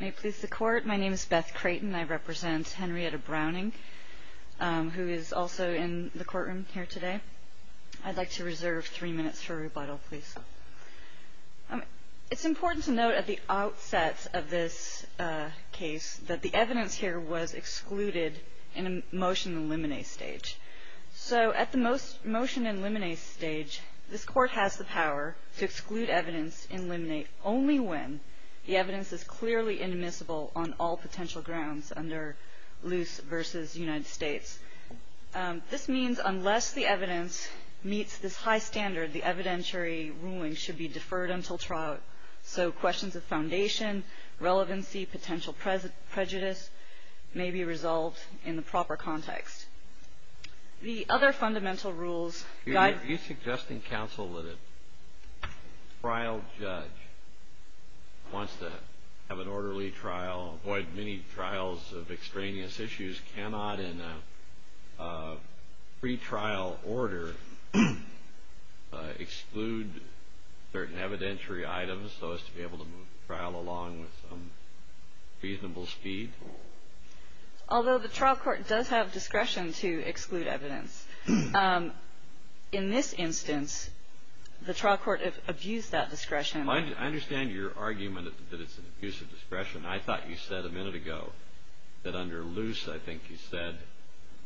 May it please the Court, my name is Beth Creighton. I represent Henrietta Browning, who is also in the courtroom here today. I'd like to reserve three minutes for rebuttal, please. It's important to note at the outset of this case that the evidence here was excluded in a motion in limine stage. So at the motion in limine stage, this Court has the power to exclude evidence in limine only when the evidence is clearly indemnifiable on all potential grounds under loose versus United States. This means unless the evidence meets this high standard, the evidentiary ruling should be deferred until trial. So questions of foundation, relevancy, potential prejudice may be resolved in the proper context. The other fundamental rules guide... Are you suggesting, counsel, that a trial judge wants to have an orderly trial, avoid many trials of extraneous issues, cannot in a pretrial order exclude certain evidentiary items so as to be able to move the trial along with some reasonable speed? Although the trial court does have discretion to exclude evidence. In this instance, the trial court abused that discretion. I understand your argument that it's an abuse of discretion. I thought you said a minute ago that under loose, I think you said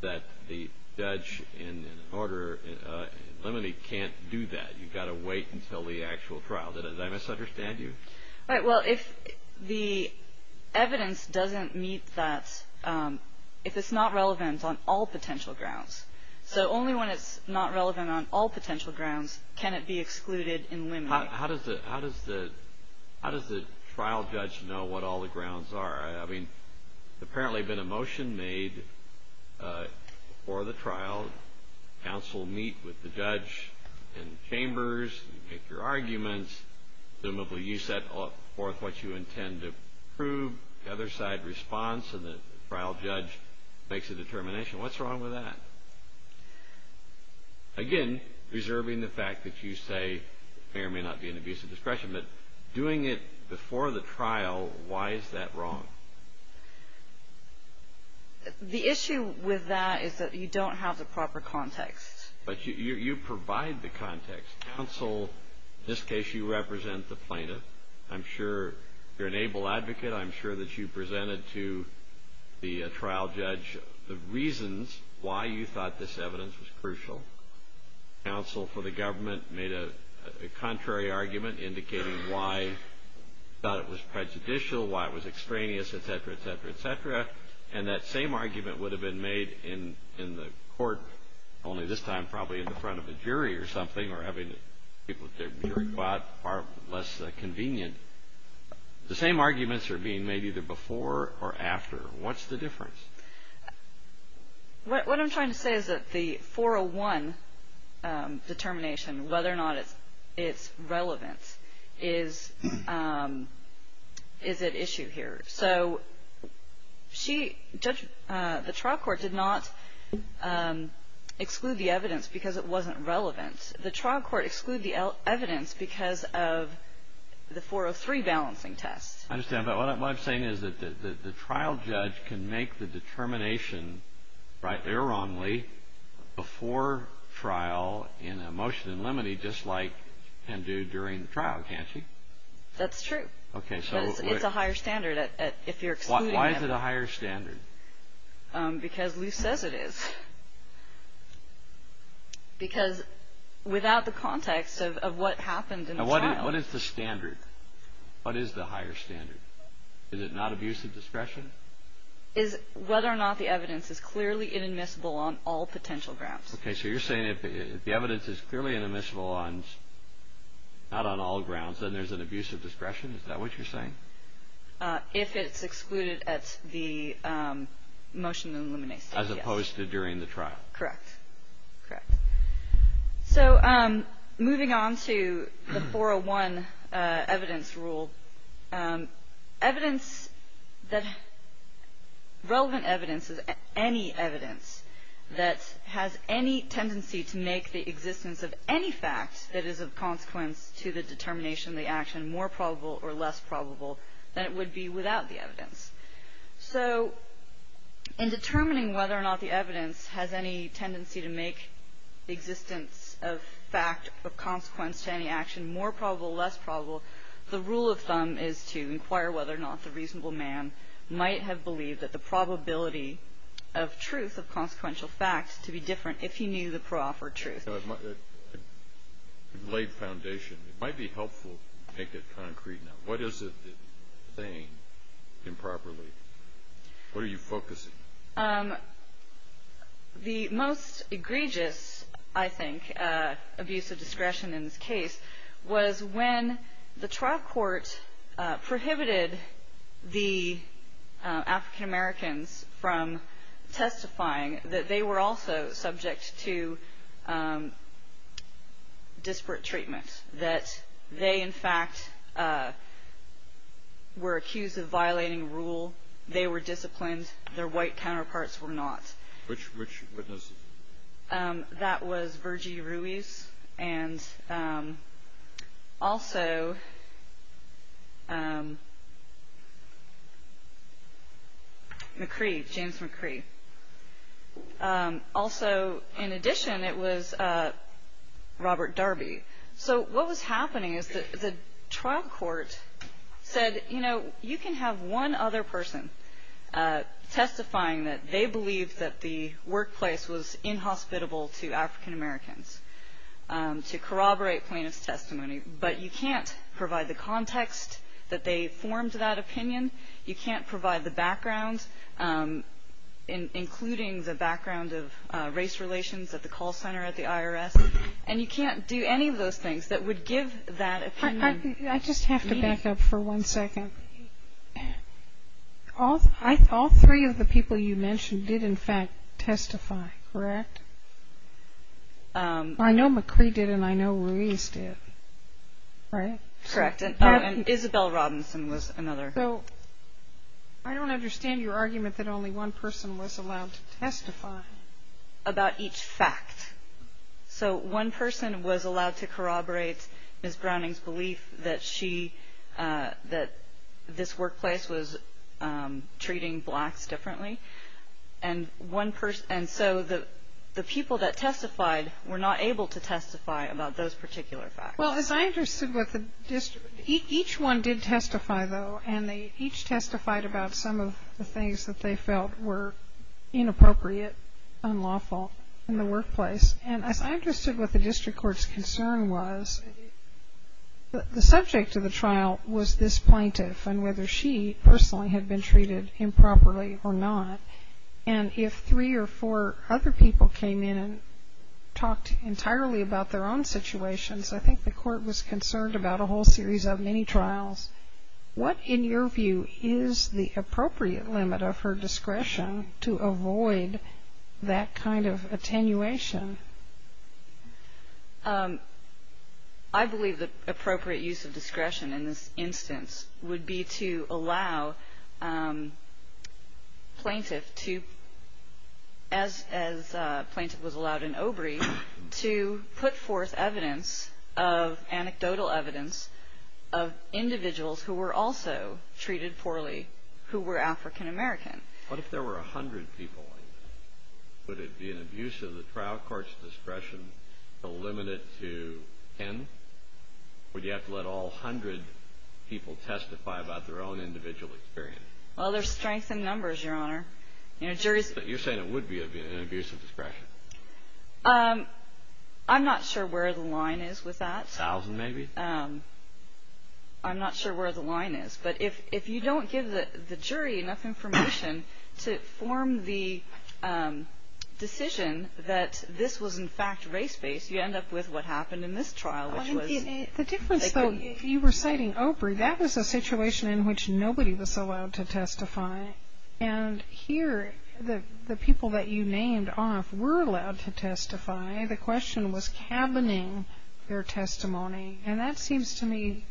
that the judge in order in limine can't do that. You've got to wait until the actual trial. Did I misunderstand you? All right. Well, if the evidence doesn't meet that, if it's not relevant on all potential grounds, so only when it's not relevant on all potential grounds can it be excluded in limine. How does the trial judge know what all the grounds are? I mean, there's apparently been a motion made for the trial. Counsel meet with the judge in chambers and make your arguments. Presumably you set forth what you intend to prove. The other side responds, and the trial judge makes a determination. What's wrong with that? Again, reserving the fact that you say there may not be an abuse of discretion, but doing it before the trial, why is that wrong? The issue with that is that you don't have the proper context. But you provide the context. Counsel, in this case, you represent the plaintiff. I'm sure you're an able advocate. I'm sure that you presented to the trial judge the reasons why you thought this evidence was crucial. Counsel for the government made a contrary argument indicating why it was prejudicial, why it was extraneous, et cetera, et cetera, et cetera. And that same argument would have been made in the court, only this time probably in the front of a jury or something, or having people at the jury quad are less convenient. The same arguments are being made either before or after. What's the difference? What I'm trying to say is that the 401 determination, whether or not it's relevant, is at issue here. So the trial court did not exclude the evidence because it wasn't relevant. The trial court excluded the evidence because of the 403 balancing test. I understand. But what I'm saying is that the trial judge can make the determination, rightly or wrongly, before trial in a motion in limine just like can do during the trial, can't she? That's true. Okay. But it's a higher standard if you're excluding it. Why is it a higher standard? Because Lou says it is. Because without the context of what happened in the trial. What is the standard? What is the higher standard? Is it not abuse of discretion? It's whether or not the evidence is clearly inadmissible on all potential grounds. Okay. So you're saying if the evidence is clearly inadmissible not on all grounds, then there's an abuse of discretion? Is that what you're saying? If it's excluded at the motion in limine. As opposed to during the trial. Correct. Correct. So moving on to the 401 evidence rule. Relevant evidence is any evidence that has any tendency to make the existence of any fact that is of consequence to the determination of the action more probable or less probable than it would be without the evidence. So in determining whether or not the evidence has any tendency to make the existence of fact of consequence to any action more probable or less probable, the rule of thumb is to inquire whether or not the reasonable man might have believed that the probability of truth, of consequential fact, to be different if he knew the proper truth. It laid foundation. It might be helpful to make it concrete now. What is it saying improperly? What are you focusing? The most egregious, I think, abuse of discretion in this case was when the trial court prohibited the African-Americans from testifying, that they were also subject to disparate treatment. That they, in fact, were accused of violating rule. They were disciplined. Their white counterparts were not. Which witnesses? That was Virgie Ruiz and also McCree, James McCree. Also, in addition, it was Robert Darby. So what was happening is that the trial court said, you know, you can have one other person testifying that they believe that the workplace was inhospitable to African-Americans to corroborate plaintiff's testimony, but you can't provide the context that they formed that opinion. You can't provide the background, including the background of race relations at the call center at the IRS. And you can't do any of those things that would give that opinion. I just have to back up for one second. All three of the people you mentioned did, in fact, testify, correct? I know McCree did and I know Ruiz did, right? Correct. And Isabel Robinson was another. So I don't understand your argument that only one person was allowed to testify. About each fact. So one person was allowed to corroborate Ms. Browning's belief that she, that this workplace was treating blacks differently. And so the people that testified were not able to testify about those particular facts. Well, as I understood what the district, each one did testify, though, and they each testified about some of the things that they felt were inappropriate, unlawful in the workplace. And as I understood what the district court's concern was, the subject of the trial was this plaintiff and whether she personally had been treated improperly or not. And if three or four other people came in and talked entirely about their own situations, I think the court was concerned about a whole series of mini-trials. What, in your view, is the appropriate limit of her discretion to avoid that kind of attenuation? I believe the appropriate use of discretion in this instance would be to allow plaintiff to, as plaintiff was allowed in Obrey, to put forth evidence, anecdotal evidence, of individuals who were also treated poorly who were African American. What if there were 100 people? Would it be an abuse of the trial court's discretion to limit it to 10? Would you have to let all 100 people testify about their own individual experience? Well, there's strength in numbers, Your Honor. You're saying it would be an abuse of discretion. I'm not sure where the line is with that. A thousand, maybe? I'm not sure where the line is. But if you don't give the jury enough information to form the decision that this was, in fact, race-based, you end up with what happened in this trial, which was… The difference, though, if you were citing Obrey, that was a situation in which nobody was allowed to testify. And here, the people that you named off were allowed to testify. The question was cabining their testimony. And that seems to me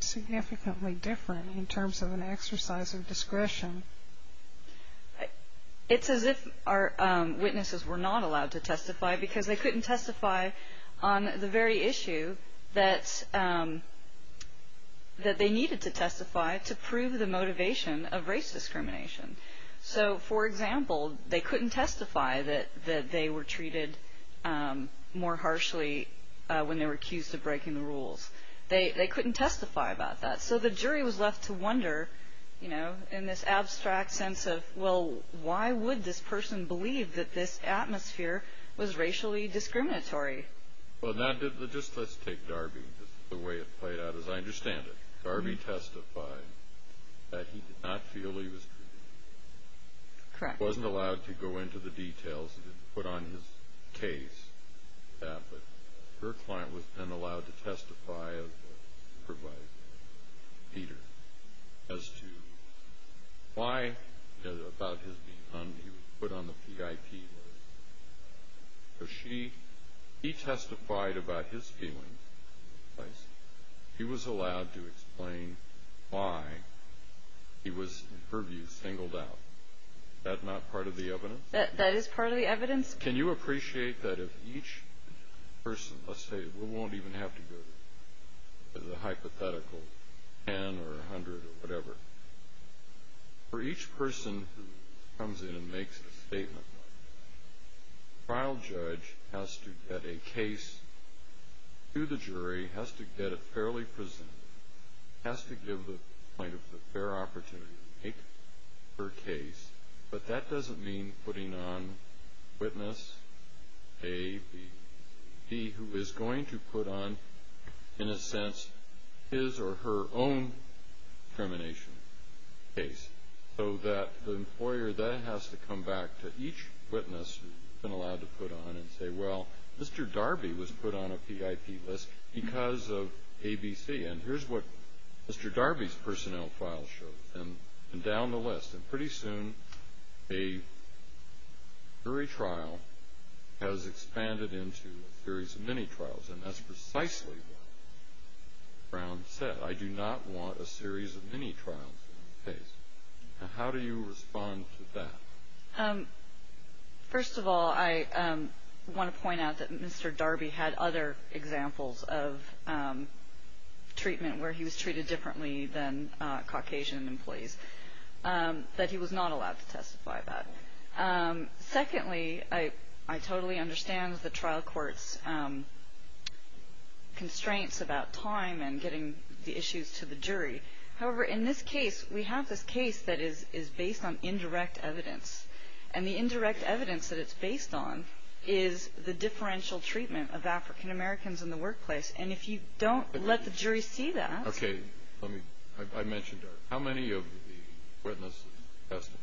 significantly different in terms of an exercise of discretion. Because they couldn't testify on the very issue that they needed to testify to prove the motivation of race discrimination. So, for example, they couldn't testify that they were treated more harshly when they were accused of breaking the rules. They couldn't testify about that. So the jury was left to wonder, you know, in this abstract sense of, well, why would this person believe that this atmosphere was racially discriminatory? Well, just let's take Darby. The way it played out, as I understand it, Darby testified that he did not feel he was treated. Correct. He wasn't allowed to go into the details. He didn't put on his case that. But her client was then allowed to testify as provided by Peter as to why about his being hung. He was put on the PIP. So he testified about his feelings. He was allowed to explain why he was, in her view, singled out. Is that not part of the evidence? That is part of the evidence. Can you appreciate that if each person, let's say we won't even have to go to the hypothetical 10 or 100 or whatever, for each person who comes in and makes a statement, the trial judge has to get a case to the jury, has to get it fairly presented, has to give the client a fair opportunity to make her case. But that doesn't mean putting on witness A, B, C, D, who is going to put on, in a sense, his or her own discrimination case, so that the employer then has to come back to each witness who's been allowed to put on and say, well, Mr. Darby was put on a PIP list because of ABC. And here's what Mr. Darby's personnel file shows, and down the list. And pretty soon a jury trial has expanded into a series of mini-trials, and that's precisely what Brown said. I do not want a series of mini-trials in the case. Now, how do you respond to that? First of all, I want to point out that Mr. Darby had other examples of treatment where he was treated differently than Caucasian employees, that he was not allowed to testify about. Secondly, I totally understand the trial court's constraints about time and getting the issues to the jury. However, in this case, we have this case that is based on indirect evidence, and the indirect evidence that it's based on is the differential treatment of African Americans in the workplace. And if you don't let the jury see that. Okay. I mentioned Darby. How many of the witnesses testified?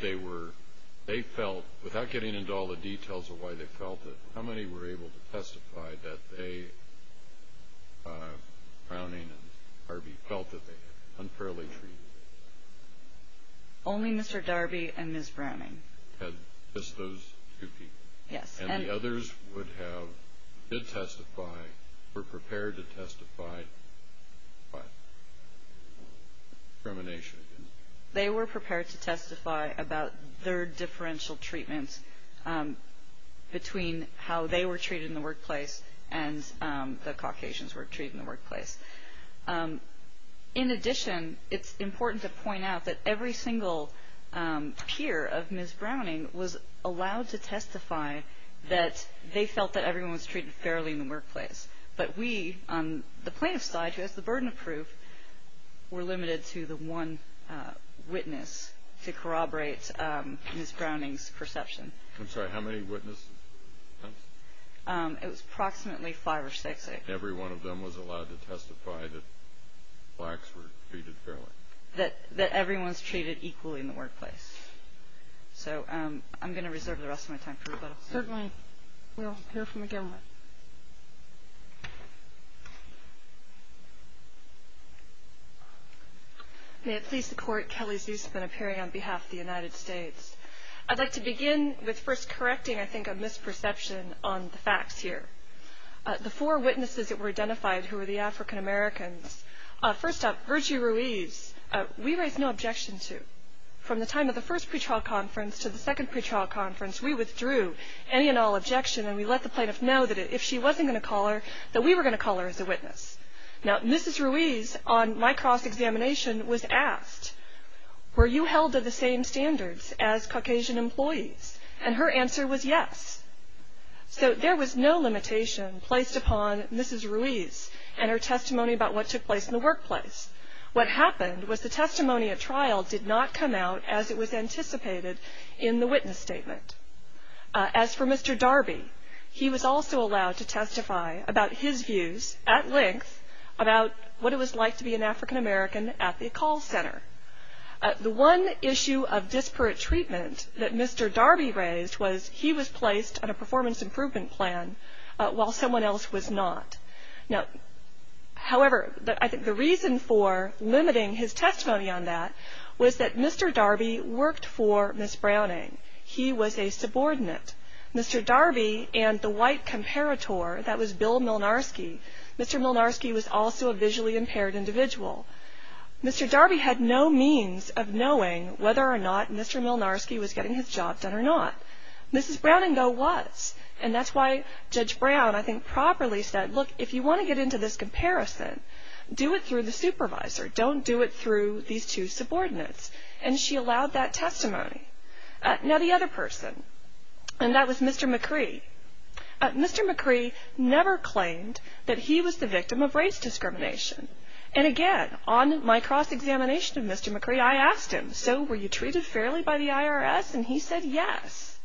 They felt, without getting into all the details of why they felt it, how many were able to testify that Browning and Darby felt that they had unfairly treated them? Only Mr. Darby and Ms. Browning. Just those two people? Yes. And the others would have, did testify, were prepared to testify about discrimination? They were prepared to testify about their differential treatments between how they were treated in the workplace and the Caucasians were treated in the workplace. In addition, it's important to point out that every single peer of Ms. Browning was allowed to testify that they felt that everyone was treated fairly in the workplace. But we, on the plaintiff's side, who has the burden of proof, were limited to the one witness to corroborate Ms. Browning's perception. I'm sorry, how many witnesses? It was approximately five or six. Every one of them was allowed to testify that blacks were treated fairly. That everyone's treated equally in the workplace. So I'm going to reserve the rest of my time for rebuttal. Certainly. We'll hear from the government. May it please the Court, Kelly Zuse has been appearing on behalf of the United States. I'd like to begin with first correcting, I think, a misperception on the facts here. The four witnesses that were identified who were the African-Americans. First up, Virgie Ruiz, we raised no objection to. From the time of the first pretrial conference to the second pretrial conference, we withdrew any and all objection and we let the plaintiff know that if she wasn't going to call her, that we were going to call her as a witness. Now, Mrs. Ruiz, on my cross-examination, was asked, were you held to the same standards as Caucasian employees? And her answer was yes. So there was no limitation placed upon Mrs. Ruiz and her testimony about what took place in the workplace. What happened was the testimony at trial did not come out as it was anticipated in the witness statement. As for Mr. Darby, he was also allowed to testify about his views, at length, about what it was like to be an African-American at the call center. The one issue of disparate treatment that Mr. Darby raised was he was placed on a performance improvement plan, while someone else was not. Now, however, I think the reason for limiting his testimony on that was that Mr. Darby worked for Ms. Browning. He was a subordinate. Mr. Darby and the white comparator, that was Bill Milnarski, Mr. Milnarski was also a visually impaired individual. Mr. Darby had no means of knowing whether or not Mr. Milnarski was getting his job done or not. Mrs. Browning, though, was, and that's why Judge Brown, I think, properly said, look, if you want to get into this comparison, do it through the supervisor. Don't do it through these two subordinates. And she allowed that testimony. Now, the other person, and that was Mr. McCree. Mr. McCree never claimed that he was the victim of race discrimination. And, again, on my cross-examination of Mr. McCree, I asked him, so were you treated fairly by the IRS? And he said yes.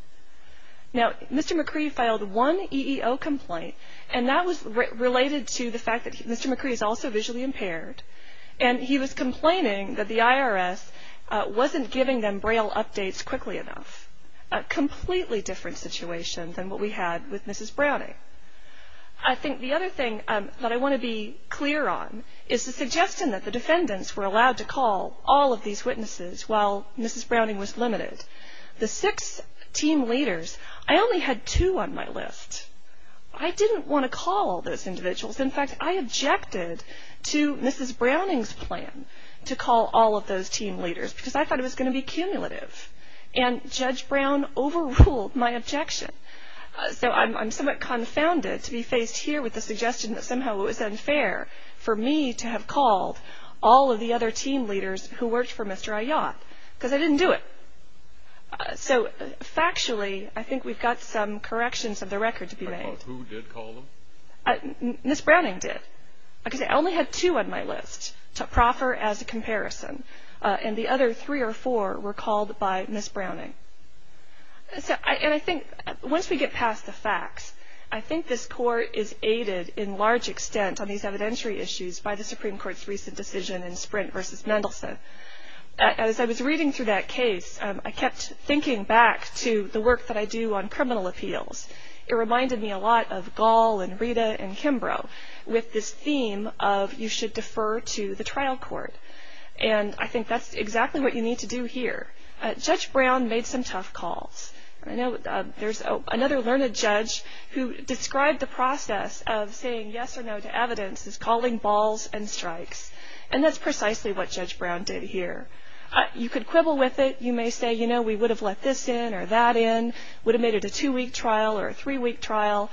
Now, Mr. McCree filed one EEO complaint, and that was related to the fact that Mr. McCree is also visually impaired. And he was complaining that the IRS wasn't giving them braille updates quickly enough, a completely different situation than what we had with Mrs. Browning. I think the other thing that I want to be clear on is the suggestion that the defendants were allowed to call all of these witnesses while Mrs. Browning was limited. The six team leaders, I only had two on my list. I didn't want to call all those individuals. In fact, I objected to Mrs. Browning's plan to call all of those team leaders because I thought it was going to be cumulative, and Judge Brown overruled my objection. So I'm somewhat confounded to be faced here with the suggestion that somehow it was unfair for me to have called all of the other team leaders who worked for Mr. Ayotte because I didn't do it. So, factually, I think we've got some corrections of the record to be made. Who did call them? Mrs. Browning did because I only had two on my list to proffer as a comparison, and the other three or four were called by Mrs. Browning. And I think once we get past the facts, I think this court is aided in large extent on these evidentiary issues by the Supreme Court's recent decision in Sprint v. Mendelson. As I was reading through that case, I kept thinking back to the work that I do on criminal appeals. It reminded me a lot of Gall and Rita and Kimbrough with this theme of you should defer to the trial court, and I think that's exactly what you need to do here. Judge Brown made some tough calls. There's another learned judge who described the process of saying yes or no to evidence as calling balls and strikes, and that's precisely what Judge Brown did here. You could quibble with it. You may say, you know, we would have let this in or that in, would have made it a two-week trial or a three-week trial,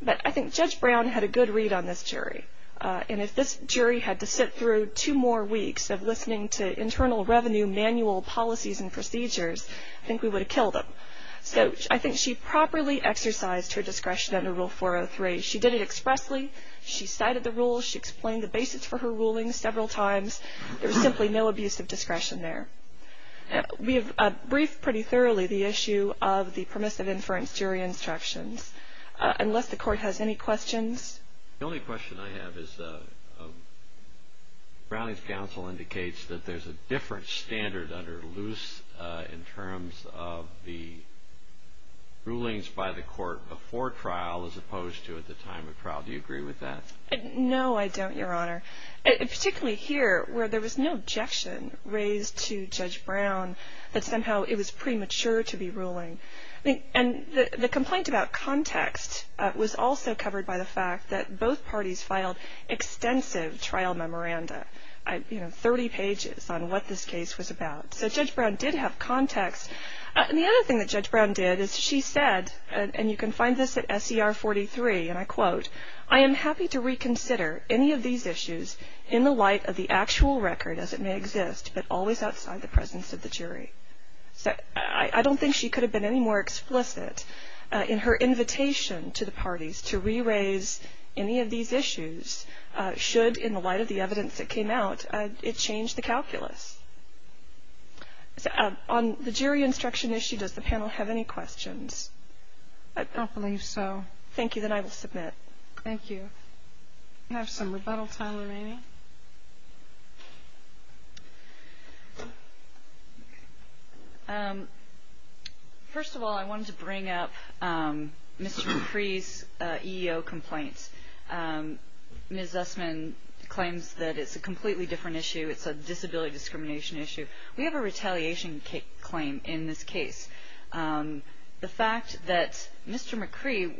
but I think Judge Brown had a good read on this jury, and if this jury had to sit through two more weeks of listening to internal revenue manual policies and procedures, I think we would have killed them. So I think she properly exercised her discretion under Rule 403. She did it expressly. She cited the rules. She explained the basis for her rulings several times. There was simply no abuse of discretion there. We have briefed pretty thoroughly the issue of the permissive inference jury instructions. Unless the court has any questions. The only question I have is Browning's counsel indicates that there's a different standard under Luce in terms of the rulings by the court before trial as opposed to at the time of trial. Do you agree with that? No, I don't, Your Honor. Particularly here where there was no objection raised to Judge Brown that somehow it was premature to be ruling. And the complaint about context was also covered by the fact that both parties filed extensive trial memoranda, you know, 30 pages on what this case was about. So Judge Brown did have context. And the other thing that Judge Brown did is she said, and you can find this at SCR 43, and I quote, I am happy to reconsider any of these issues in the light of the actual record as it may exist, but always outside the presence of the jury. So I don't think she could have been any more explicit in her invitation to the parties to re-raise any of these issues should, in the light of the evidence that came out, it change the calculus. On the jury instruction issue, does the panel have any questions? I don't believe so. Thank you. Then I will submit. Thank you. We have some rebuttal time remaining. First of all, I wanted to bring up Mr. McCree's EEO complaint. Ms. Zussman claims that it's a completely different issue. It's a disability discrimination issue. We have a retaliation claim in this case. The fact that Mr. McCree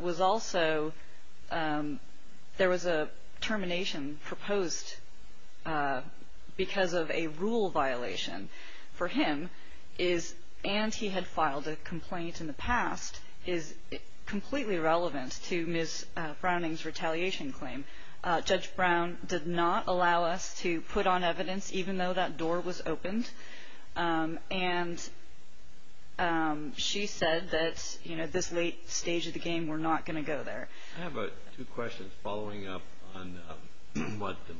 was also, there was a termination proposed because of a rule violation for him, and he had filed a complaint in the past, is completely relevant to Ms. Browning's retaliation claim. Judge Brown did not allow us to put on evidence, even though that door was opened. And she said that at this late stage of the game, we're not going to go there. I have two questions. Following up on what was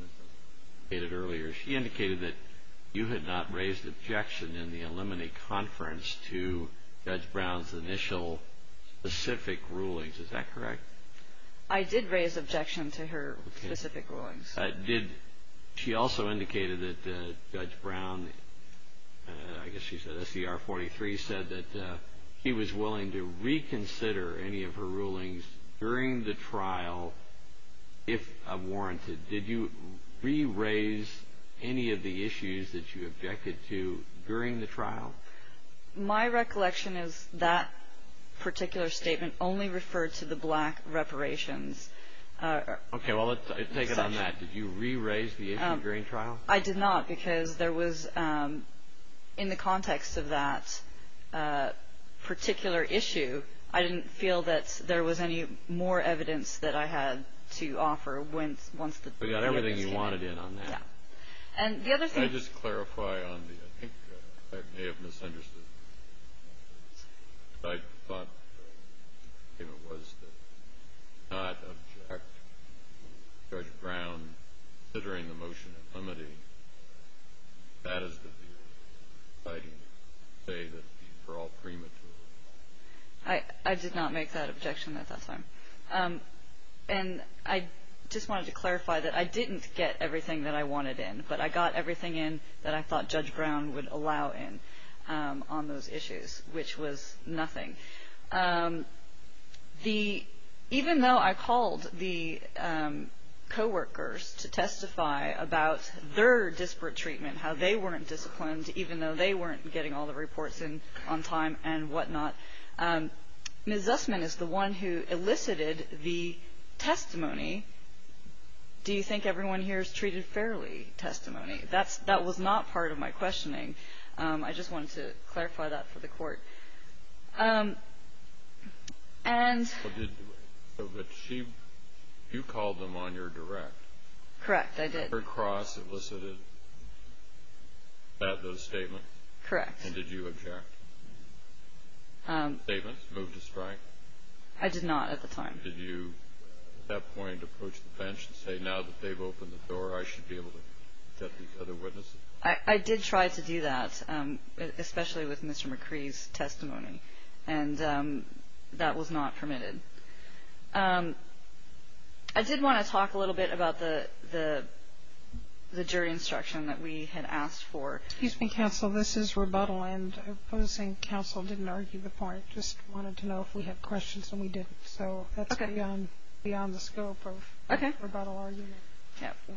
stated earlier, she indicated that you had not raised objection in the alumni conference to Judge Brown's initial specific rulings. Is that correct? I did raise objection to her specific rulings. She also indicated that Judge Brown, I guess she said SCR 43, said that he was willing to reconsider any of her rulings during the trial if warranted. Did you re-raise any of the issues that you objected to during the trial? My recollection is that particular statement only referred to the black reparations. Okay, well, let's take it on that. Did you re-raise the issue during trial? I did not because there was, in the context of that particular issue, I didn't feel that there was any more evidence that I had to offer once the case came in. So you got everything you wanted in on that. Yeah. And the other thing – Can I just clarify on the – I think I may have misunderstood. I thought the statement was to not object to Judge Brown considering the motion of limiting. That is the view. I didn't say that for all premature. I did not make that objection. That's fine. And I just wanted to clarify that I didn't get everything that I wanted in, but I got everything in that I thought Judge Brown would allow in on those issues, which was nothing. Even though I called the coworkers to testify about their disparate treatment, how they weren't disciplined, even though they weren't getting all the reports in on time and whatnot, Ms. Zussman is the one who elicited the testimony. Do you think everyone here is treated fairly testimony? That was not part of my questioning. I just wanted to clarify that for the court. But you called them on your direct. Correct, I did. Her cross elicited those statements? Correct. And did you object? The statements moved to strike? I did not at the time. And did you at that point approach the bench and say, now that they've opened the door, I should be able to get these other witnesses? I did try to do that, especially with Mr. McCree's testimony. And that was not permitted. I did want to talk a little bit about the jury instruction that we had asked for. Excuse me, counsel, this is rebuttal, and opposing counsel didn't argue the point. I just wanted to know if we had questions, and we didn't. So that's beyond the scope of rebuttal argument.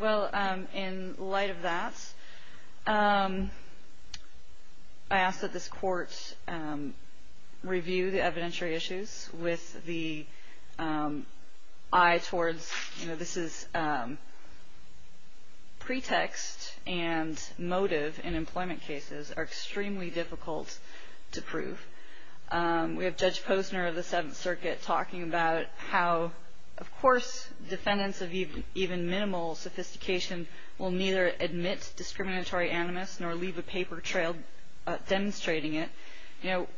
Well, in light of that, I ask that this court review the evidentiary issues with the eye towards, you know, pretext and motive in employment cases are extremely difficult to prove. We have Judge Posner of the Seventh Circuit talking about how, of course, defendants of even minimal sophistication will neither admit discriminatory animus nor leave a paper trail demonstrating it. You know,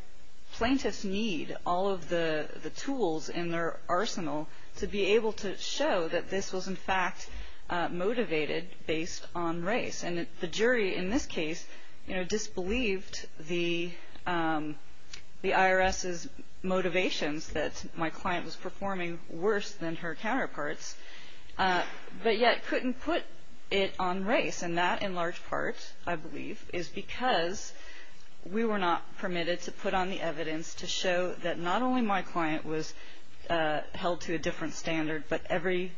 plaintiffs need all of the tools in their arsenal to be able to show that this was, in fact, motivated based on race. And the jury in this case, you know, disbelieved the IRS's motivations, that my client was performing worse than her counterparts, but yet couldn't put it on race. And that, in large part, I believe, is because we were not permitted to put on the evidence to show that not only my client was held to a different standard, but that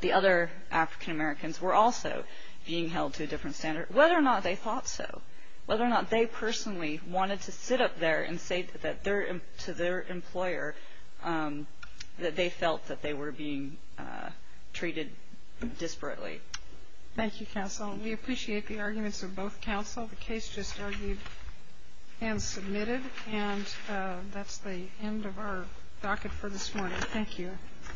the other African-Americans were also being held to a different standard, whether or not they thought so, whether or not they personally wanted to sit up there and say to their employer that they felt that they were being treated disparately. Thank you, counsel. We appreciate the arguments of both counsel. The case just argued and submitted, and that's the end of our docket for this morning. Thank you.